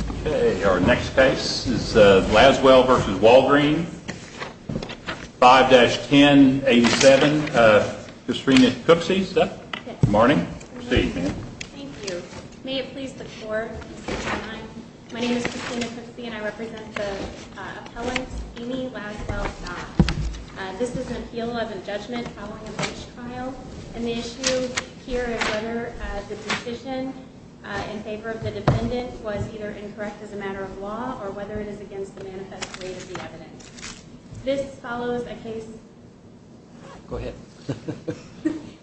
Okay, our next case is Laswell v. Walgreen, 5-1087, Kristina Cooksey. Good morning. Good evening. Thank you. May it please the court, my name is Kristina Cooksey and I represent the appellant Amy Laswell Scott. This is an appeal of a judgment following a bench trial and the issue here is whether the decision in favor of the defendant was either incorrect as a matter of law or whether it is against the manifest rate of the evidence. This follows a case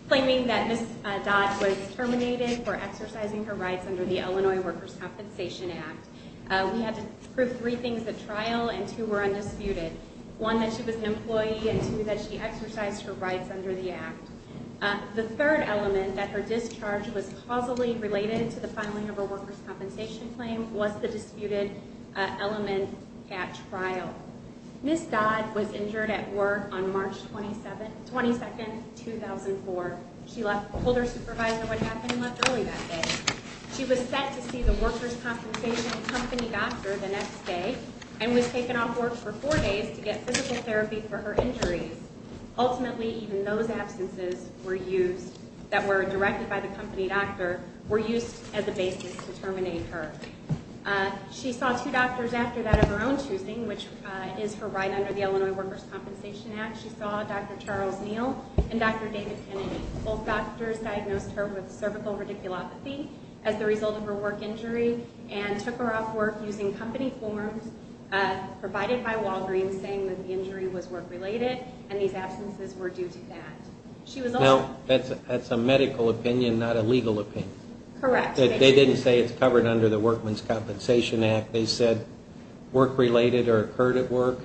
claiming that Ms. Dodd was terminated for exercising her rights under the Illinois Workers' Compensation Act. We had to prove three things at trial and two were undisputed. One, that she was an employee and two, that she exercised her rights under the act. The third element that her discharge was causally related to the filing of a workers' compensation claim was the disputed element at trial. Ms. Dodd was injured at work on March 22, 2004. She told her supervisor what happened and left early that day. She was set to see the workers' compensation company doctor the next day and was taken off work for four days to get physical therapy for her injuries. Ultimately, even those absences that were directed by the company doctor were used as a basis to terminate her. She saw two doctors after that of her own choosing, which is her right under the Illinois Workers' Compensation Act. She saw Dr. Charles Neal and Dr. David Kennedy. Both doctors diagnosed her with cervical radiculopathy as the result of her work injury and took her off work using company forms provided by Walgreens saying that the injury was work-related and these absences were due to that. Now, that's a medical opinion, not a legal opinion. Correct. They didn't say it's covered under the Workmen's Compensation Act. They said work-related or occurred at work?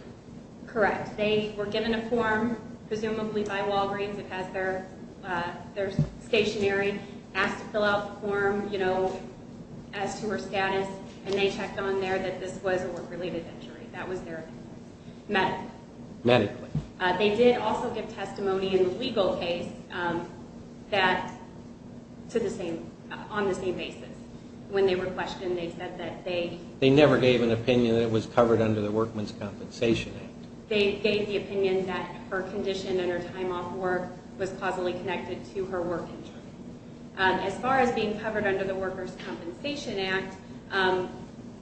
Correct. They were given a form, presumably by Walgreens. It has their stationery. Asked to fill out the form, you know, as to her status, and they checked on there that this was a work-related injury. That was their medical. Medically. They did also give testimony in the legal case that, to the same, on the same basis. When they were questioned, they said that they... They never gave an opinion that it was covered under the Workmen's Compensation Act. They gave the opinion that her condition and her time off work was causally connected to her work injury. As far as being covered under the Workers' Compensation Act,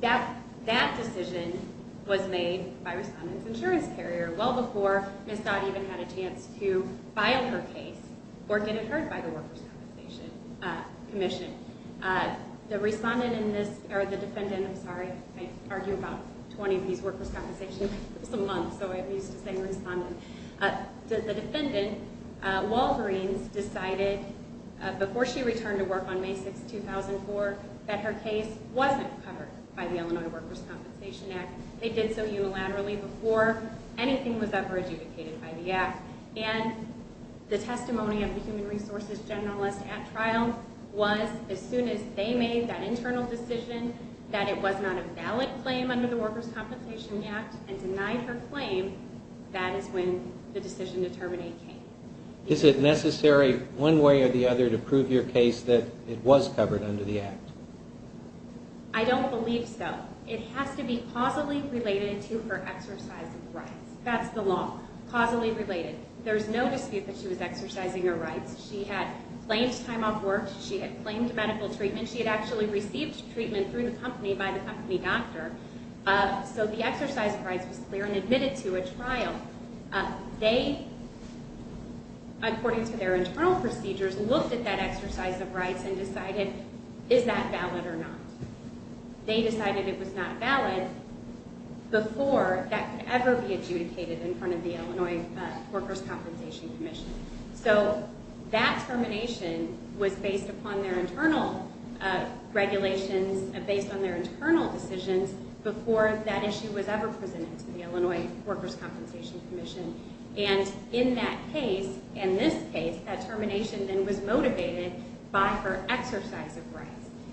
that decision was made by Respondent's Insurance Carrier well before Ms. Dodd even had a chance to file her case or get it heard by the Workers' Compensation Commission. The Respondent in this, or the Defendant, I'm sorry, I argue about 20 of these Workers' Compensation Commission months, so I'm used to saying Respondent. The Defendant, Walgreens, decided before she returned to work on May 6, 2004, that her case wasn't covered by the Illinois Workers' Compensation Act. They did so unilaterally before anything was ever adjudicated by the Act. And the testimony of the Human Resources Generalist at trial was, as soon as they made that internal decision that it was not a valid claim under the Workers' Compensation Act and denied her claim, that is when the decision to terminate came. Is it necessary, one way or the other, to prove your case that it was covered under the Act? I don't believe so. It has to be causally related to her exercise of rights. That's the law. Causally related. There's no dispute that she was exercising her rights. She had claimed time off work. She had claimed medical treatment. She had actually received treatment through the company by the company doctor. So the exercise of rights was clear and admitted to a trial. They, according to their internal procedures, looked at that exercise of rights and decided, is that valid or not? They decided it was not valid before that could ever be adjudicated in front of the Illinois Workers' Compensation Commission. So that termination was based upon their internal regulations, based on their internal decisions, before that issue was ever presented to the Illinois Workers' Compensation Commission. And in that case, in this case, that termination then was motivated by her exercise of rights.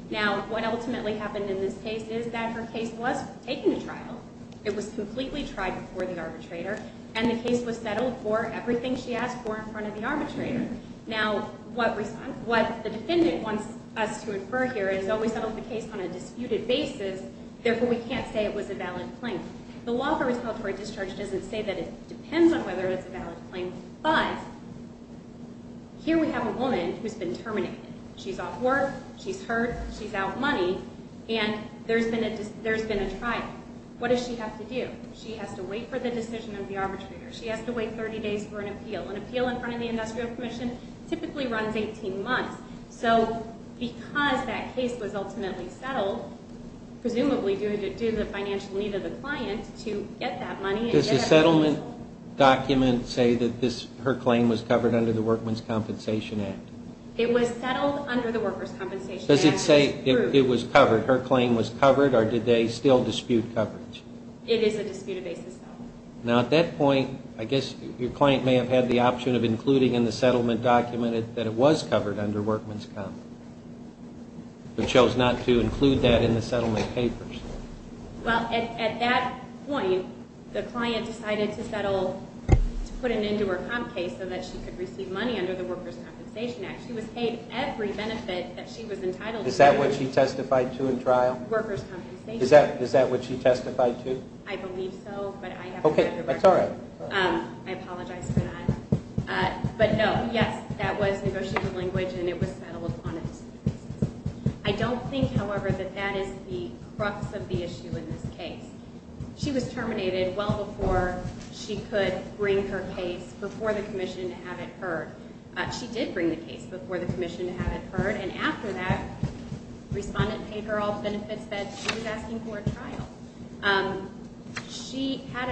Now, what ultimately happened in this case is that her case was taken to trial. It was completely tried before the arbitrator. And the case was settled for everything she asked for in front of the arbitrator. Now, what the defendant wants us to infer here is that we settled the case on a disputed basis. Therefore, we can't say it was a valid claim. The law for respiratory discharge doesn't say that it depends on whether it's a valid claim. But here we have a woman who's been terminated. She's off work. She's hurt. She's out money. And there's been a trial. What does she have to do? She has to wait for the decision of the arbitrator. She has to wait 30 days for an appeal. An appeal in front of the industrial commission typically runs 18 months. So because that case was ultimately settled, presumably due to the financial need of the client to get that money and get that compensation. Does the settlement document say that her claim was covered under the Workman's Compensation Act? It was settled under the Worker's Compensation Act. Does it say it was covered, her claim was covered, or did they still dispute coverage? It is a disputed basis, no. Now, at that point, I guess your client may have had the option of including in the settlement document that it was covered under Workman's Comp. But chose not to include that in the settlement papers. Well, at that point, the client decided to put an end to her comp case so that she could receive money under the Worker's Compensation Act. She was paid every benefit that she was entitled to. Is that what she testified to in trial? Worker's Compensation Act. Is that what she testified to? I believe so, but I haven't read her record. Okay, that's all right. I apologize for that. But no, yes, that was negotiated language and it was settled on a disputed basis. I don't think, however, that that is the crux of the issue in this case. She was terminated well before she could bring her case before the commission to have it heard. She did bring the case before the commission to have it heard. And after that, respondent paid her all the benefits that she was asking for at trial. She had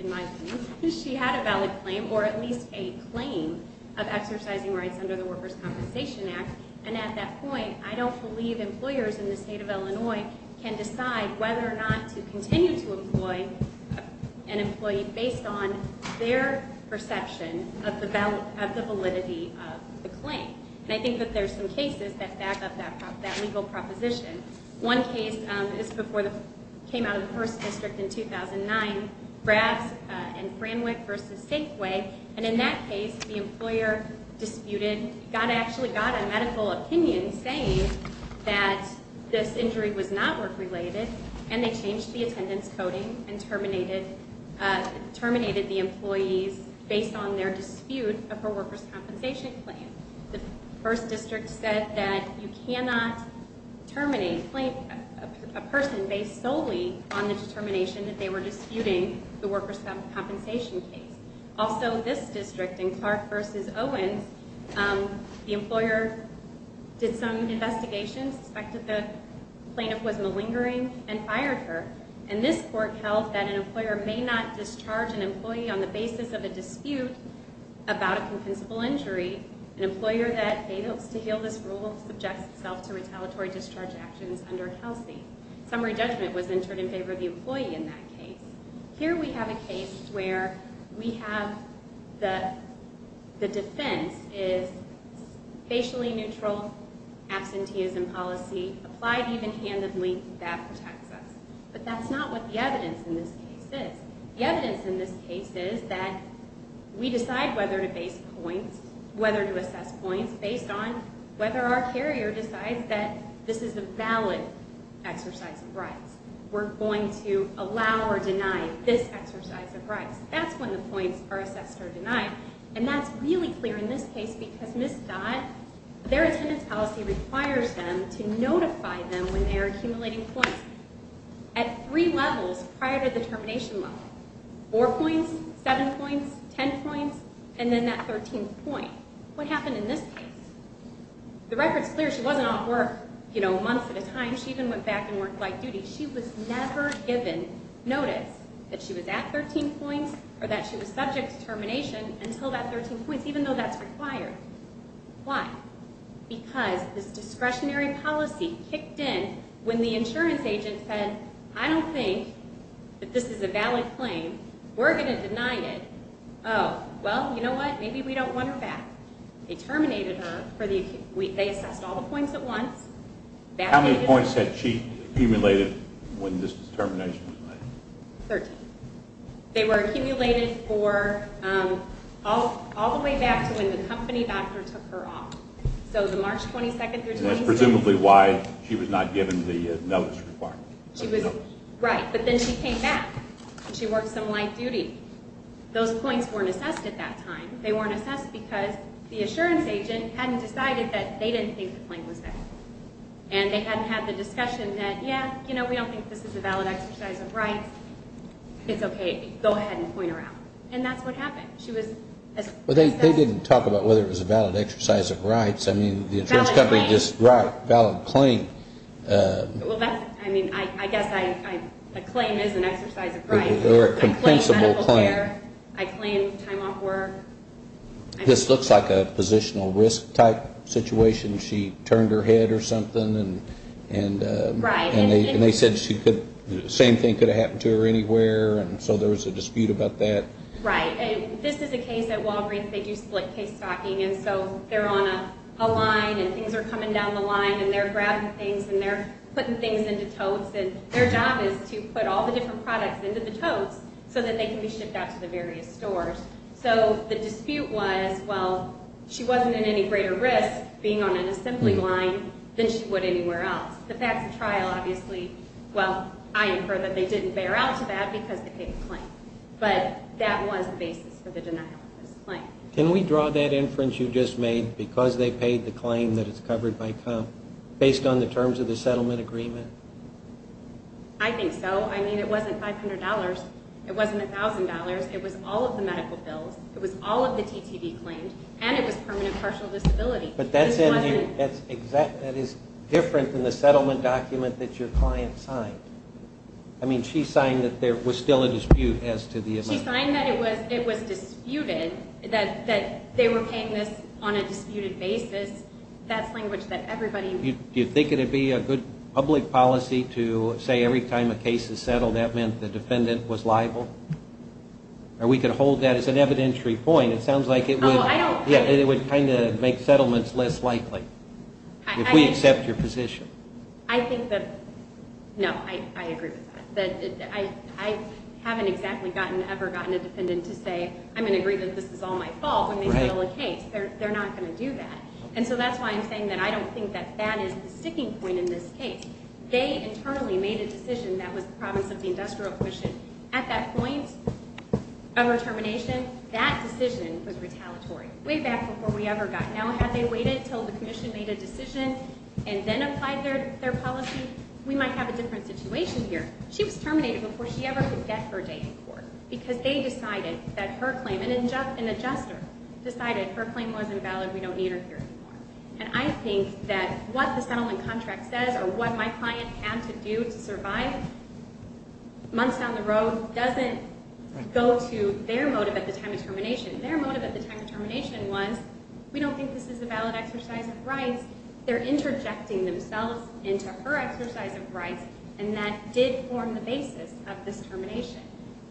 a valid claim, or at least a claim, of exercising rights under the Worker's Compensation Act. And at that point, I don't believe employers in the state of Illinois can decide whether or not to continue to employ an employee based on their perception of the validity of the claim. And I think that there's some cases that back up that legal proposition. One case came out of the first district in 2009, Brass and Framwick v. Safeway. And in that case, the employer disputed, actually got a medical opinion saying that this injury was not work-related, and they changed the attendance coding and terminated the employees based on their dispute of her worker's compensation claim. The first district said that you cannot terminate a person based solely on the determination that they were disputing the worker's compensation case. Also, this district, in Clark v. Owen, the employer did some investigations, suspected the plaintiff was malingering, and fired her. And this court held that an employer may not discharge an employee on the basis of a dispute about a compensable injury. An employer that fails to heal this rule subjects itself to retaliatory discharge actions under Kelsey. Summary judgment was entered in favor of the employee in that case. Here we have a case where we have the defense is facially neutral, absenteeism policy, applied even-handedly, that protects us. But that's not what the evidence in this case is. The evidence in this case is that we decide whether to base points, whether to assess points, based on whether our carrier decides that this is a valid exercise of rights. We're going to allow or deny this exercise of rights. That's when the points are assessed or denied. And that's really clear in this case because Ms. Scott, their attendance policy requires them to notify them when they are accumulating points. At three levels prior to the termination level, four points, seven points, ten points, and then that thirteenth point. What happened in this case? The record's clear, she wasn't off work, you know, months at a time. She even went back and worked light duty. She was never given notice that she was at thirteen points or that she was subject to termination until that thirteen points, even though that's required. Why? Because this discretionary policy kicked in when the insurance agent said, I don't think that this is a valid claim. We're going to deny it. Oh, well, you know what? Maybe we don't want her back. They terminated her. They assessed all the points at once. How many points had she accumulated when this determination was made? Thirteen. They were accumulated for all the way back to when the company doctor took her off. So the March 22nd through 23rd. And that's presumably why she was not given the notice requirement. Right. But then she came back and she worked some light duty. Those points weren't assessed at that time. They weren't assessed because the insurance agent hadn't decided that they didn't think the claim was valid. And they hadn't had the discussion that, yeah, you know, we don't think this is a valid exercise of rights. It's okay. Go ahead and point her out. And that's what happened. She was assessed. But they didn't talk about whether it was a valid exercise of rights. I mean, the insurance company just brought a valid claim. Well, that's, I mean, I guess a claim is an exercise of rights. Or a compensable claim. I claim time off work. This looks like a positional risk type situation. She turned her head or something and they said the same thing could have happened to her anywhere. And so there was a dispute about that. Right. This is a case at Walgreens. They do split case stocking. And so they're on a line and things are coming down the line. And they're grabbing things and they're putting things into totes. And their job is to put all the different products into the totes so that they can be shipped out to the various stores. So the dispute was, well, she wasn't at any greater risk being on an assembly line than she would anywhere else. But that's a trial, obviously. Well, I infer that they didn't bear out to that because they paid the claim. But that was the basis for the denial of this claim. Can we draw that inference you just made, because they paid the claim that it's covered by comp, based on the terms of the settlement agreement? I think so. I mean, it wasn't $500. It wasn't $1,000. It was all of the medical bills. It was all of the TTD claims. And it was permanent partial disability. But that is different than the settlement document that your client signed. I mean, she signed that there was still a dispute as to the amount. She signed that it was disputed, that they were paying this on a disputed basis. That's language that everybody would use. Do you think it would be a good public policy to say every time a case is settled that meant the defendant was liable? Or we could hold that as an evidentiary point. It sounds like it would kind of make settlements less likely if we accept your position. I think that, no, I agree with that. I haven't exactly ever gotten a defendant to say, I'm going to agree that this is all my fault when they fill a case. They're not going to do that. And so that's why I'm saying that I don't think that that is the sticking point in this case. They internally made a decision that was the province of the industrial commission. At that point of determination, that decision was retaliatory, way back before we ever got. Now, had they waited until the commission made a decision and then applied their policy, we might have a different situation here. She was terminated before she ever could get her date in court because they decided that her claim, an adjuster, decided her claim wasn't valid, we don't need her here anymore. And I think that what the settlement contract says or what my client had to do to survive months down the road doesn't go to their motive at the time of termination. Their motive at the time of termination was, we don't think this is a valid exercise of rights. They're interjecting themselves into her exercise of rights, and that did form the basis of this termination.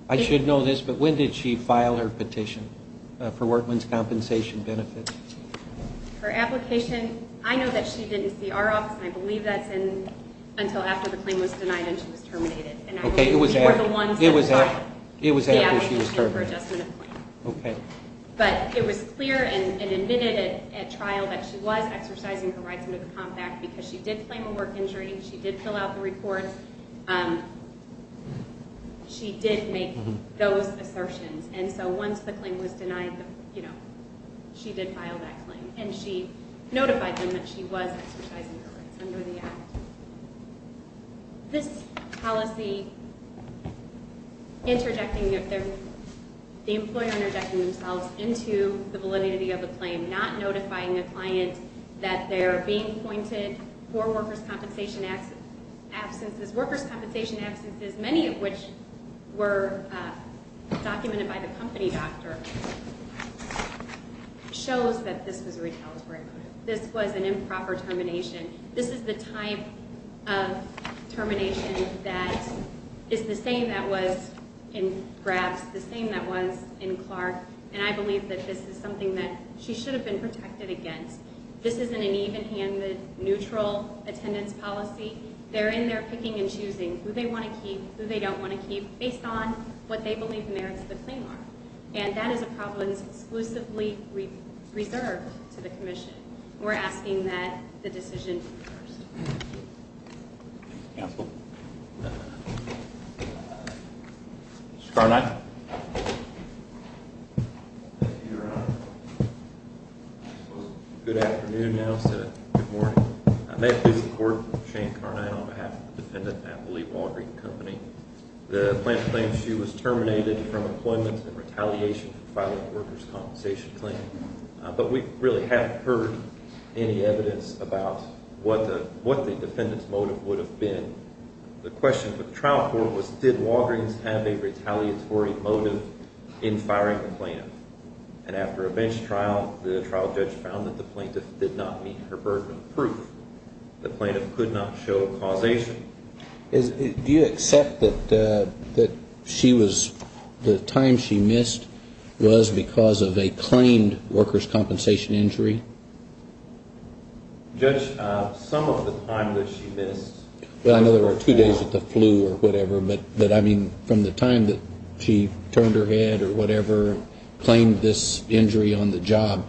I should know this, but when did she file her petition for workman's compensation benefits? Her application, I know that she didn't see our office, and I believe that's until after the claim was denied and she was terminated. And I believe we were the ones that filed the application for adjustment of claim. But it was clear and admitted at trial that she was exercising her rights under the Comp Act because she did claim a work injury, she did fill out the report, she did make those assertions. And so once the claim was denied, she did file that claim, and she notified them that she was exercising her rights under the Act. This policy interjecting, the employer interjecting themselves into the validity of the claim, not notifying a client that they're being appointed for workers' compensation absences, workers' compensation absences, many of which were documented by the company doctor, shows that this was a retaliatory motive. This was an improper termination. This is the type of termination that is the same that was in Grabs, the same that was in Clark, and I believe that this is something that she should have been protected against. This isn't an even-handed, neutral attendance policy. They're in there picking and choosing who they want to keep, who they don't want to keep, based on what they believe merits the claim law. And that is a problem that is exclusively reserved to the commission. We're asking that the decision be reversed. Thank you. Counsel. Mr. Carnight. Thank you, Your Honor. It's a good afternoon now instead of good morning. I may have to use the court, Shane Carnight, on behalf of the defendant, Natalie Walgreens Company. The plaintiff claims she was terminated from employment in retaliation for filing a workers' compensation claim. But we really haven't heard any evidence about what the defendant's motive would have been. The question for the trial court was did Walgreens have a retaliatory motive in firing the plaintiff. And after a bench trial, the trial judge found that the plaintiff did not meet her burden of proof. The plaintiff could not show causation. Do you accept that she was the time she missed was because of a claimed workers' compensation injury? Judge, some of the time that she missed. Well, I know there were two days with the flu or whatever. But, I mean, from the time that she turned her head or whatever, claimed this injury on the job.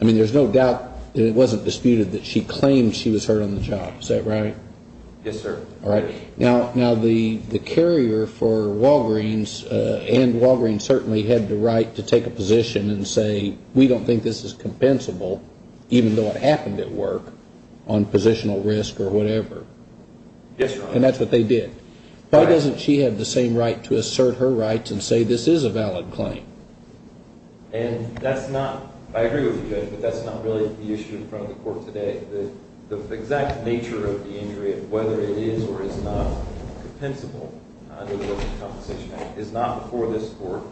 I mean, there's no doubt that it wasn't disputed that she claimed she was hurt on the job. Is that right? Yes, sir. All right. Now, the carrier for Walgreens and Walgreens certainly had the right to take a position and say, we don't think this is compensable, even though it happened at work, on positional risk or whatever. Yes, Your Honor. And that's what they did. Why doesn't she have the same right to assert her rights and say this is a valid claim? And that's not, I agree with you, Judge, but that's not really the issue in front of the court today. The exact nature of the injury, whether it is or is not compensable under the Workers' Compensation Act, is not before this Court,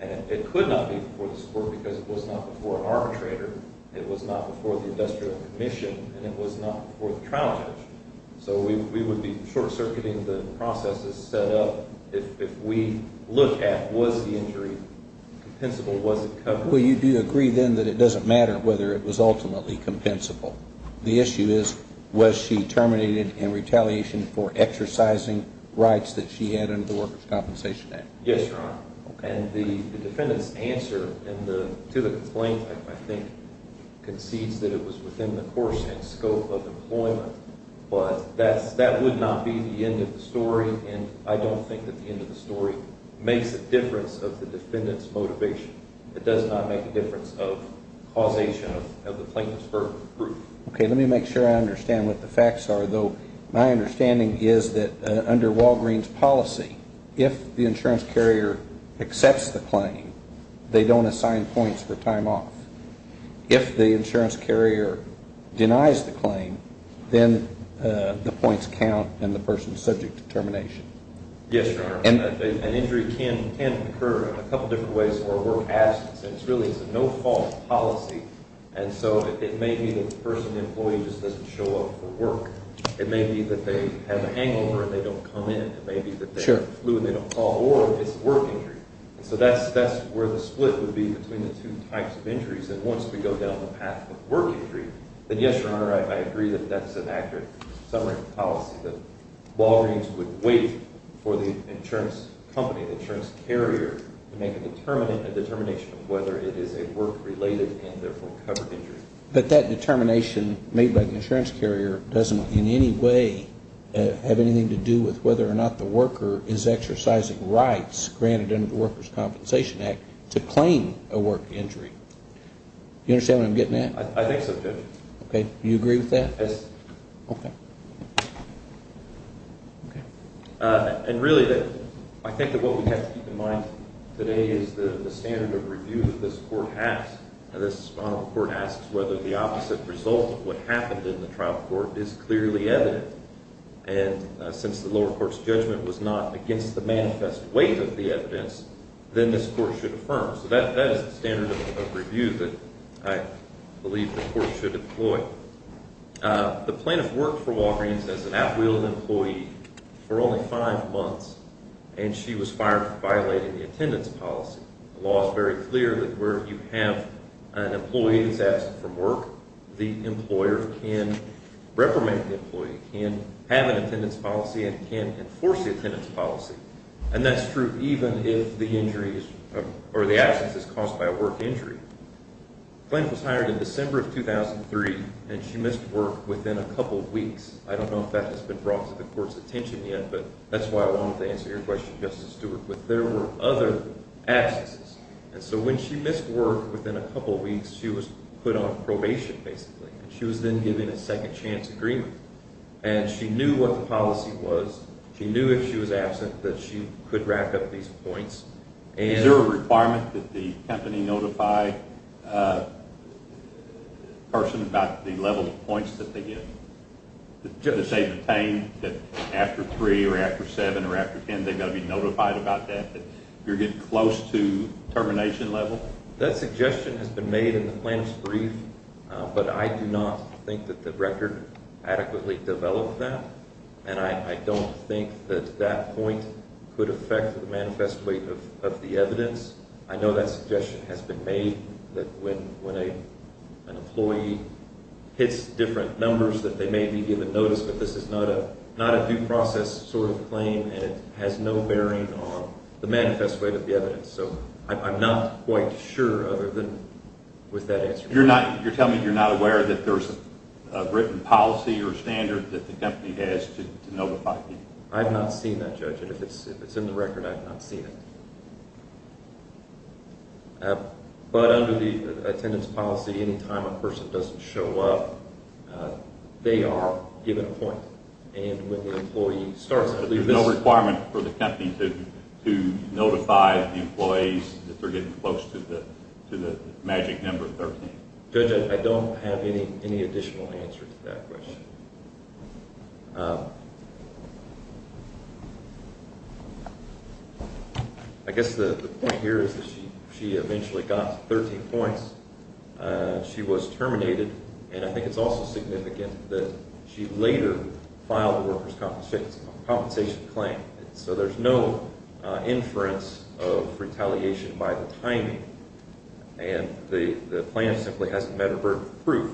and it could not be before this Court because it was not before an arbitrator, it was not before the industrial commission, and it was not before the trial judge. So we would be short-circuiting the processes set up if we look at was the injury compensable, was it covered? Well, you do agree then that it doesn't matter whether it was ultimately compensable. The issue is, was she terminated in retaliation for exercising rights that she had under the Workers' Compensation Act? Yes, Your Honor. And the defendant's answer to the complaint, I think, concedes that it was within the course and scope of employment. But that would not be the end of the story, and I don't think that the end of the story makes a difference of the defendant's motivation. It does not make a difference of causation of the plaintiff's verbal proof. Okay, let me make sure I understand what the facts are, though. My understanding is that under Walgreen's policy, if the insurance carrier accepts the claim, they don't assign points for time off. If the insurance carrier denies the claim, then the points count in the person's subject determination. Yes, Your Honor. An injury can occur in a couple different ways where a work absence, and it's really a no-fault policy. And so it may be that the person, the employee, just doesn't show up for work. It may be that they have a hangover and they don't come in. It may be that they flew and they don't call, or it's a work injury. And so that's where the split would be between the two types of injuries. And once we go down the path of work injury, then yes, Your Honor, I agree that that's an accurate summary of the policy, that Walgreen's would wait for the insurance company, the insurance carrier, to make a determination of whether it is a work-related and, therefore, covered injury. But that determination made by the insurance carrier doesn't in any way have anything to do with whether or not the worker is exercising rights granted under the Workers' Compensation Act to claim a work injury. Do you understand what I'm getting at? I think so, Judge. Okay. Do you agree with that? Yes. Okay. And really, I think that what we have to keep in mind today is the standard of review that this court has. This court asks whether the opposite result of what happened in the trial court is clearly evident. And since the lower court's judgment was not against the manifest weight of the evidence, then this court should affirm. So that is the standard of review that I believe the court should employ. So the plaintiff worked for Walgreen's as an at-will employee for only five months, and she was fired for violating the attendance policy. The law is very clear that where you have an employee that's absent from work, the employer can reprimand the employee, can have an attendance policy, and can enforce the attendance policy. And that's true even if the absence is caused by a work injury. The plaintiff was hired in December of 2003, and she missed work within a couple weeks. I don't know if that has been brought to the court's attention yet, but that's why I wanted to answer your question, Justice Stewart. But there were other absences. And so when she missed work within a couple weeks, she was put on probation, basically. And she was then given a second-chance agreement. And she knew what the policy was. She knew if she was absent that she could rack up these points. Is there a requirement that the company notify the person about the level of points that they get? To say that after three or after seven or after ten, they've got to be notified about that, that you're getting close to termination level? That suggestion has been made in the plaintiff's brief, but I do not think that the record adequately developed that. And I don't think that that point could affect the manifest weight of the evidence. I know that suggestion has been made that when an employee hits different numbers that they may be given notice, but this is not a due process sort of claim, and it has no bearing on the manifest weight of the evidence. So I'm not quite sure other than with that answer. You're telling me you're not aware that there's a written policy or standard that the company has to notify people? I've not seen that, Judge. If it's in the record, I've not seen it. But under the attendance policy, any time a person doesn't show up, they are given a point. And when the employee starts, at least this— to notify the employees that they're getting close to the magic number 13. Judge, I don't have any additional answer to that question. I guess the point here is that she eventually got 13 points. She was terminated, and I think it's also significant that she later filed a workers' compensation claim. So there's no inference of retaliation by the timing, and the plaintiff simply hasn't met her proof.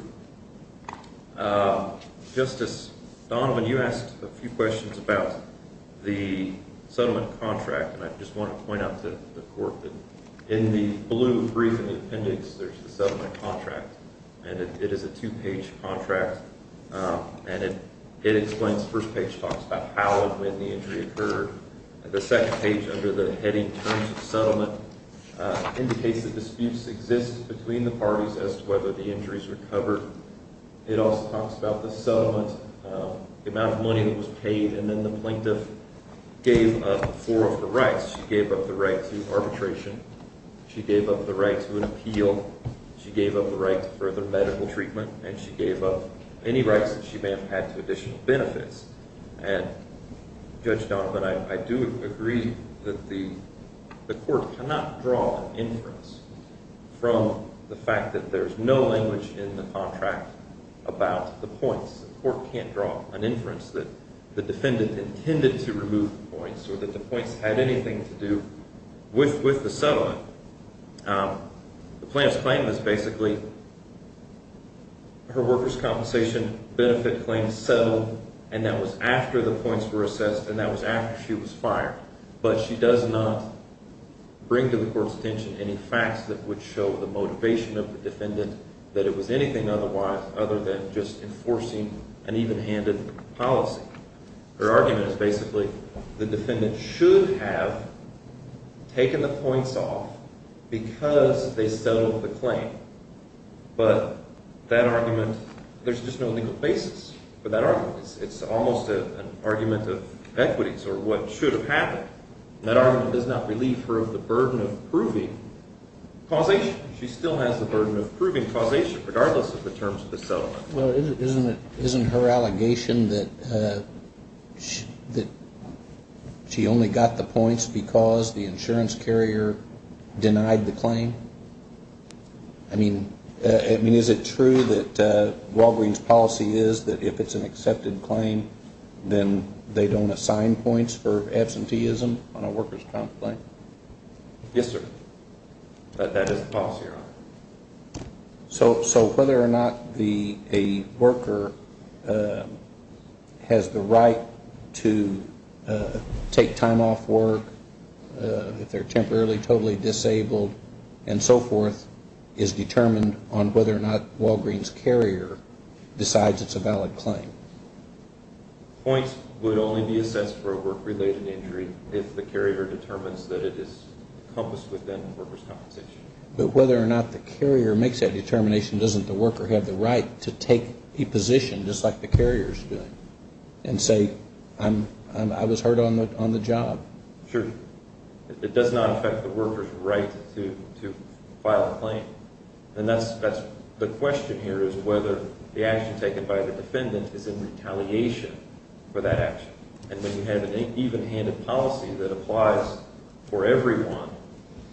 Justice Donovan, you asked a few questions about the settlement contract, and I just want to point out to the court that in the blue brief in the appendix, there's the settlement contract, and it is a two-page contract, and it explains—the first page talks about how and when the injury occurred. The second page under the heading, Terms of Settlement, indicates that disputes exist between the parties as to whether the injuries were covered. It also talks about the settlement, the amount of money that was paid, and then the plaintiff gave up four of the rights. She gave up the right to arbitration. She gave up the right to an appeal. She gave up the right to further medical treatment, and she gave up any rights that she may have had to additional benefits. And, Judge Donovan, I do agree that the court cannot draw an inference from the fact that there's no language in the contract about the points. The court can't draw an inference that the defendant intended to remove the points or that the points had anything to do with the settlement. The plaintiff's claim is basically her workers' compensation benefit claim settled, and that was after the points were assessed, and that was after she was fired. But she does not bring to the court's attention any facts that would show the motivation of the defendant that it was anything other than just enforcing an even-handed policy. Her argument is basically the defendant should have taken the points off because they settled the claim. But that argument, there's just no legal basis for that argument. It's almost an argument of equities or what should have happened. That argument does not relieve her of the burden of proving causation. She still has the burden of proving causation regardless of the terms of the settlement. Well, isn't her allegation that she only got the points because the insurance carrier denied the claim? I mean, is it true that Walgreen's policy is that if it's an accepted claim, then they don't assign points for absenteeism on a workers' comp claim? Yes, sir. That is the policy. So whether or not a worker has the right to take time off work, if they're temporarily totally disabled and so forth, is determined on whether or not Walgreen's carrier decides it's a valid claim. Points would only be assessed for a work-related injury if the carrier determines that it is encompassed within workers' compensation. But whether or not the carrier makes that determination, doesn't the worker have the right to take a position just like the carrier is doing and say, I was hurt on the job? Sure. It does not affect the worker's right to file a claim. And that's the question here is whether the action taken by the defendant is in retaliation for that action. And when you have an even-handed policy that applies for everyone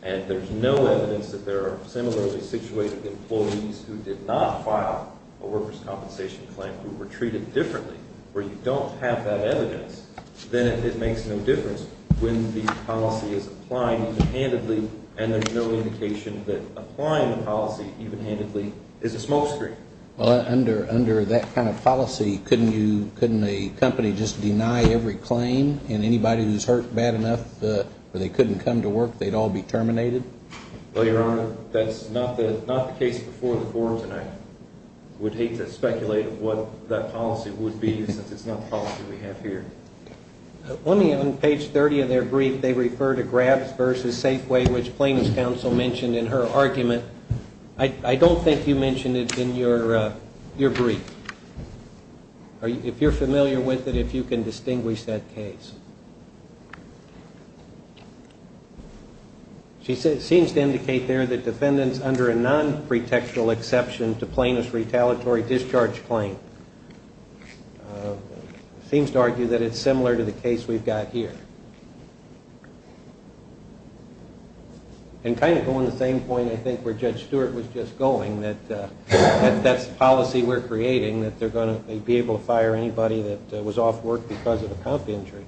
and there's no evidence that there are similarly situated employees who did not file a workers' compensation claim, who were treated differently, where you don't have that evidence, then it makes no difference when the policy is applied even-handedly and there's no indication that applying the policy even-handedly is a smokescreen. Well, under that kind of policy, couldn't you, couldn't a company just deny every claim and anybody who's hurt bad enough where they couldn't come to work, they'd all be terminated? Well, Your Honor, that's not the case before the forum tonight. I would hate to speculate what that policy would be since it's not the policy we have here. On page 30 of their brief, they refer to grabs versus safe way, which plaintiff's counsel mentioned in her argument. I don't think you mentioned it in your brief. If you're familiar with it, if you can distinguish that case. She seems to indicate there that defendants under a non-pretextual exception to plaintiff's retaliatory discharge claim. Seems to argue that it's similar to the case we've got here. And kind of going to the same point, I think, where Judge Stewart was just going, that that's the policy we're creating, that they're going to be able to fire anybody that was off work because of a comp injury.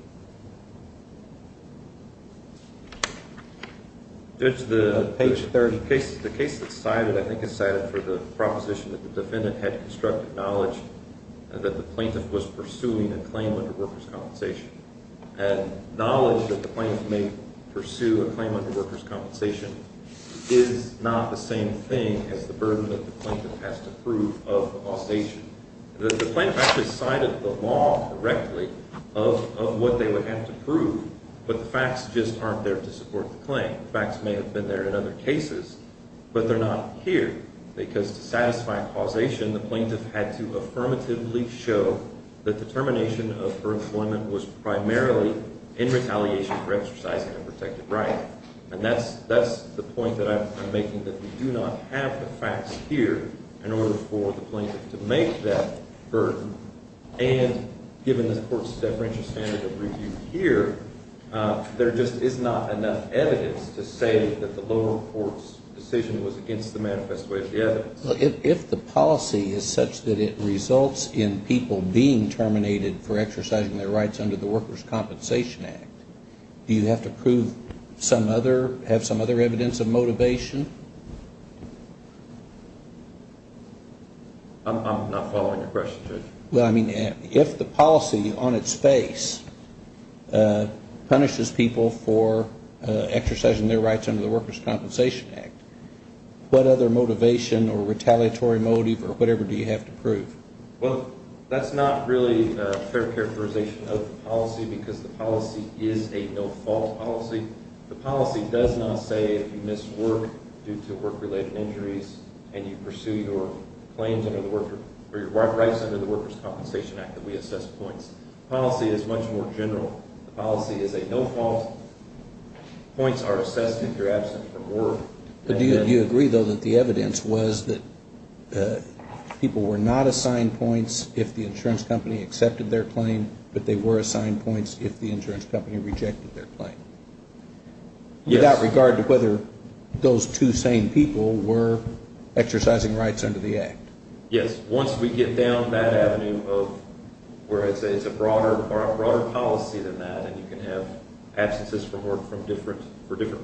Judge, the case that's cited, I think it's cited for the proposition that the defendant had constructive knowledge that the plaintiff was pursuing a claim under workers' compensation and knowledge that the plaintiff may pursue a claim under workers' compensation is not the same thing as the burden that the plaintiff has to prove of the causation. The plaintiff actually cited the law directly of what they would have to prove, but the facts just aren't there to support the claim. The facts may have been there in other cases, but they're not here because to satisfy causation, the plaintiff had to affirmatively show that the termination of her employment was primarily in retaliation for exercising a protected right. And that's the point that I'm making, that we do not have the facts here in order for the plaintiff to make that burden. And given this Court's deferential standard of review here, there just is not enough evidence to say that the lower court's decision was against the manifest way of the evidence. If the policy is such that it results in people being terminated for exercising their rights under the Workers' Compensation Act, do you have to have some other evidence of motivation? I'm not following your question, Judge. Well, I mean, if the policy on its face punishes people for exercising their rights under the Workers' Compensation Act, what other motivation or retaliatory motive or whatever do you have to prove? Well, that's not really a fair characterization of the policy because the policy is a no-fault policy. The policy does not say if you miss work due to work-related injuries and you pursue your claims under the Workers' Compensation Act that we assess points. The policy is much more general. The policy is a no-fault. Points are assessed if you're absent from work. Do you agree, though, that the evidence was that people were not assigned points if the insurance company accepted their claim, but they were assigned points if the insurance company rejected their claim? Yes. Without regard to whether those two same people were exercising rights under the Act? Yes. Once we get down that avenue of where it's a broader policy than that, and you can have absences from work for different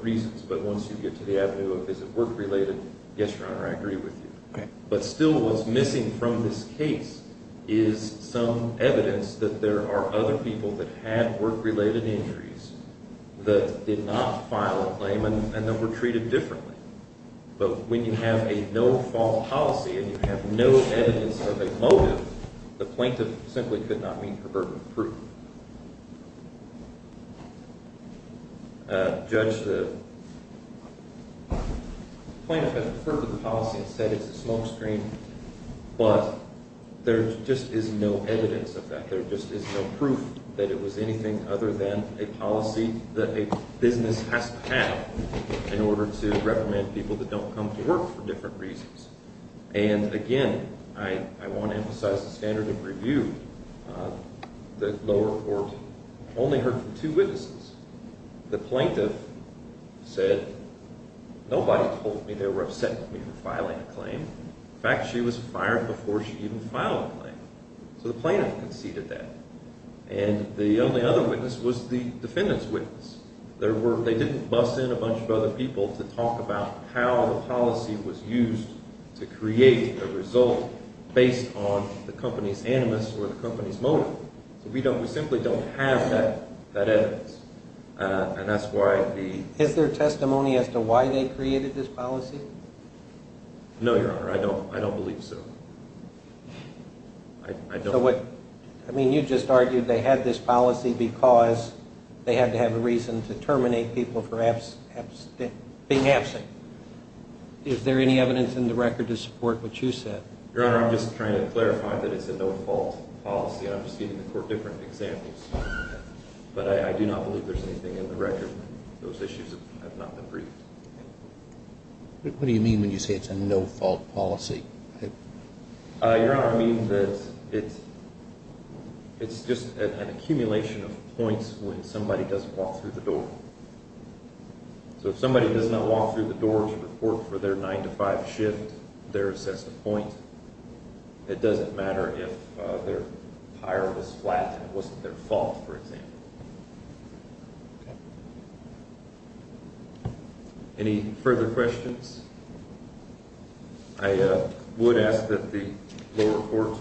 reasons, but once you get to the avenue of is it work-related, yes, Your Honor, I agree with you. Okay. But still what's missing from this case is some evidence that there are other people that had work-related injuries that did not file a claim and that were treated differently. But when you have a no-fault policy and you have no evidence of a motive, the plaintiff simply could not mean proverbial proof. Judge, the plaintiff has referred to the policy and said it's a smokescreen, but there just is no evidence of that. There just is no proof that it was anything other than a policy that a business has to have in order to reprimand people that don't come to work for different reasons. And again, I want to emphasize the standard of review. The lower court only heard from two witnesses. The plaintiff said, nobody told me they were upset with me for filing a claim. In fact, she was fired before she even filed a claim. So the plaintiff conceded that. And the only other witness was the defendant's witness. They didn't bus in a bunch of other people to talk about how the policy was used to create a result based on the company's animus or the company's motive. So we simply don't have that evidence. Is there testimony as to why they created this policy? No, Your Honor, I don't believe so. I mean, you just argued they had this policy because they had to have a reason to terminate people for being absent. Is there any evidence in the record to support what you said? Your Honor, I'm just trying to clarify that it's a no-fault policy. I'm just giving the court different examples. But I do not believe there's anything in the record. Those issues have not been briefed. What do you mean when you say it's a no-fault policy? Your Honor, I mean that it's just an accumulation of points when somebody doesn't walk through the door. So if somebody does not walk through the door to report for their 9 to 5 shift, there's just a point. It doesn't matter if their tire was flat and it wasn't their fault, for example. Any further questions? I would ask that the lower court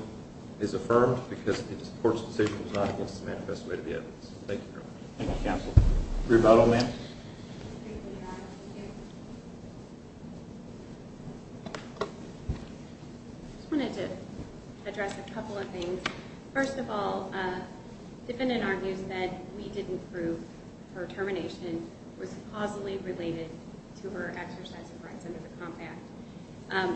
is affirmed because the court's decision was not against the manifest way to the evidence. Thank you, Your Honor. Thank you, counsel. Rebuttal, ma'am. I just wanted to address a couple of things. First of all, defendant argues that we didn't prove her termination was causally related to her exercise of rights under the Comp Act.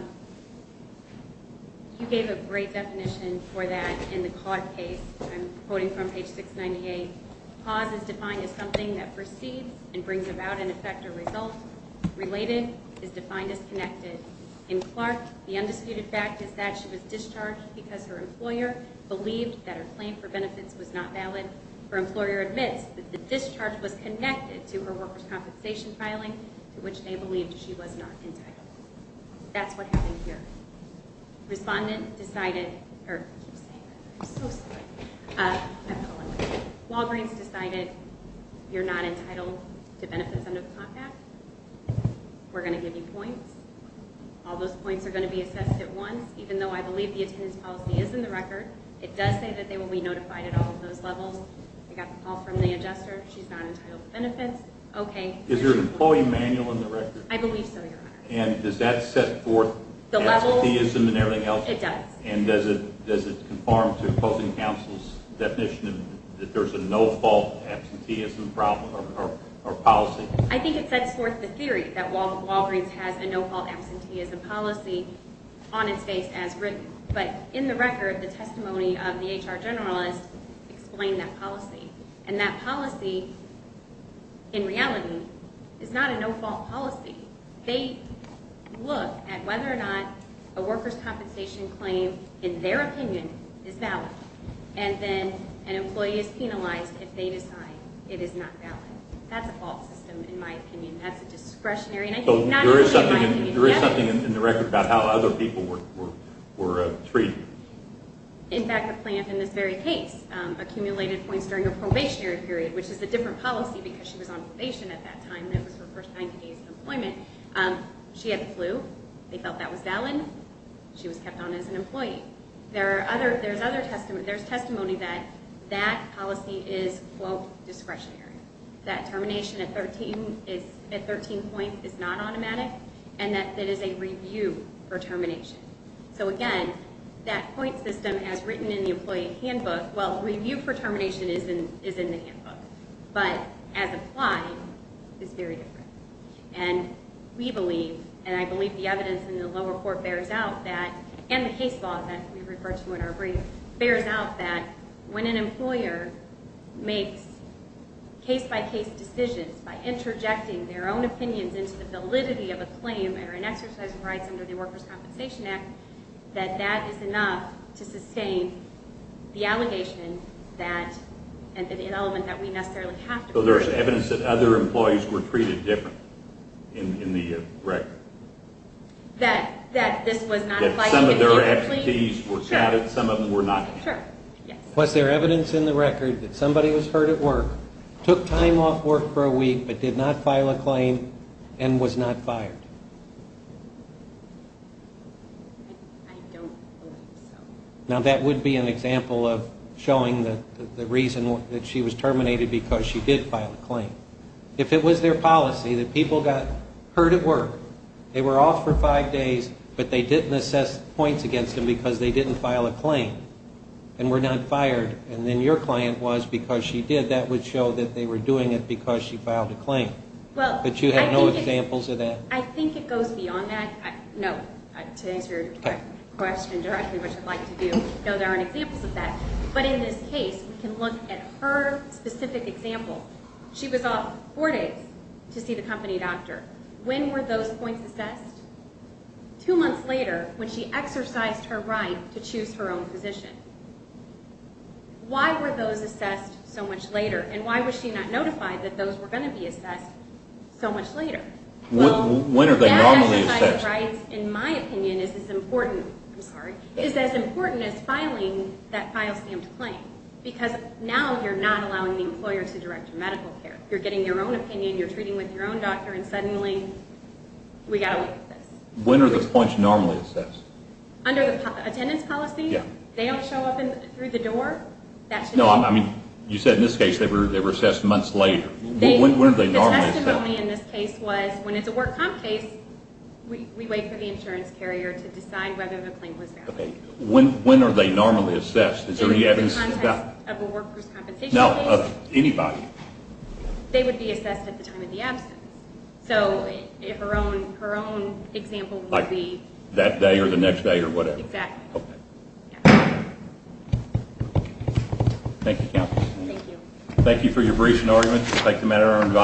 You gave a great definition for that in the Cod Case. I'm quoting from page 698. Cause is defined as something that precedes and brings about an effect or result. Related is defined as connected. In Clark, the undisputed fact is that she was discharged because her employer believed that her claim for benefits was not valid. Her employer admits that the discharge was connected to her workers' compensation filing, to which they believed she was not entitled. That's what happened here. Respondent decided her, I keep saying that, I'm so sorry, I apologize. Walgreens decided you're not entitled to benefits under the Comp Act. We're going to give you points. All those points are going to be assessed at once, even though I believe the attendance policy is in the record. It does say that they will be notified at all of those levels. I got the call from the adjuster. She's not entitled to benefits. Okay. Is there an employee manual in the record? I believe so, Your Honor. And does that set forth absenteeism and everything else? It does. And does it conform to opposing counsel's definition that there's a no-fault absenteeism policy? I think it sets forth the theory that Walgreens has a no-fault absenteeism policy on its face as written. But in the record, the testimony of the HR generalist explained that policy. And that policy, in reality, is not a no-fault policy. They look at whether or not a workers' compensation claim, in their opinion, is valid. And then an employee is penalized if they decide it is not valid. That's a fault system, in my opinion. That's a discretionary. There is something in the record about how other people were treated. In fact, a plaintiff in this very case accumulated points during a probationary period, which is a different policy because she was on probation at that time. That was her first 90 days of employment. She had the flu. They felt that was valid. She was kept on as an employee. There's testimony that that policy is, quote, discretionary, that termination at 13 point is not automatic, and that it is a review for termination. So, again, that point system as written in the employee handbook, well, review for termination is in the handbook. But as applied, it's very different. And we believe, and I believe the evidence in the lower court bears out that, and the case law that we refer to in our brief bears out that when an employer makes case-by-case decisions by interjecting their own opinions into the validity of a claim or an exercise of rights under the Workers' Compensation Act, that that is enough to sustain the allegation that, and the element that we necessarily have to believe. So there's evidence that other employees were treated differently in the record? That this was not applied to them? That some of their expertise were counted, some of them were not counted? Sure, yes. Was there evidence in the record that somebody was hurt at work, took time off work for a week, but did not file a claim, and was not fired? I don't believe so. Now, that would be an example of showing the reason that she was terminated because she did file a claim. If it was their policy that people got hurt at work, they were off for five days, but they didn't assess points against them because they didn't file a claim and were not fired, and then your client was because she did, that would show that they were doing it because she filed a claim. But you have no examples of that? I think it goes beyond that. No, to answer your question directly, which I'd like to do, no, there aren't examples of that. But in this case, we can look at her specific example. She was off four days to see the company doctor. When were those points assessed? Two months later, when she exercised her right to choose her own position. Why were those assessed so much later, and why was she not notified that those were going to be assessed so much later? When are they normally assessed? That exercise of rights, in my opinion, is as important as filing that file-stamped claim because now you're not allowing the employer to direct your medical care. You're getting your own opinion, you're treating with your own doctor, and suddenly we've got to look at this. When are the points normally assessed? Under the attendance policy? Yeah. They don't show up through the door? No, I mean, you said in this case they were assessed months later. The testimony in this case was when it's a work comp case, we wait for the insurance carrier to decide whether the claim was valid. When are they normally assessed? In the context of a work-proof compensation case. No, of anybody. They would be assessed at the time of the absence. So her own example would be that day or the next day or whatever. Exactly. Thank you, Counsel. Thank you. Thank you for your brief and argument. Thank the matter. I'm advised.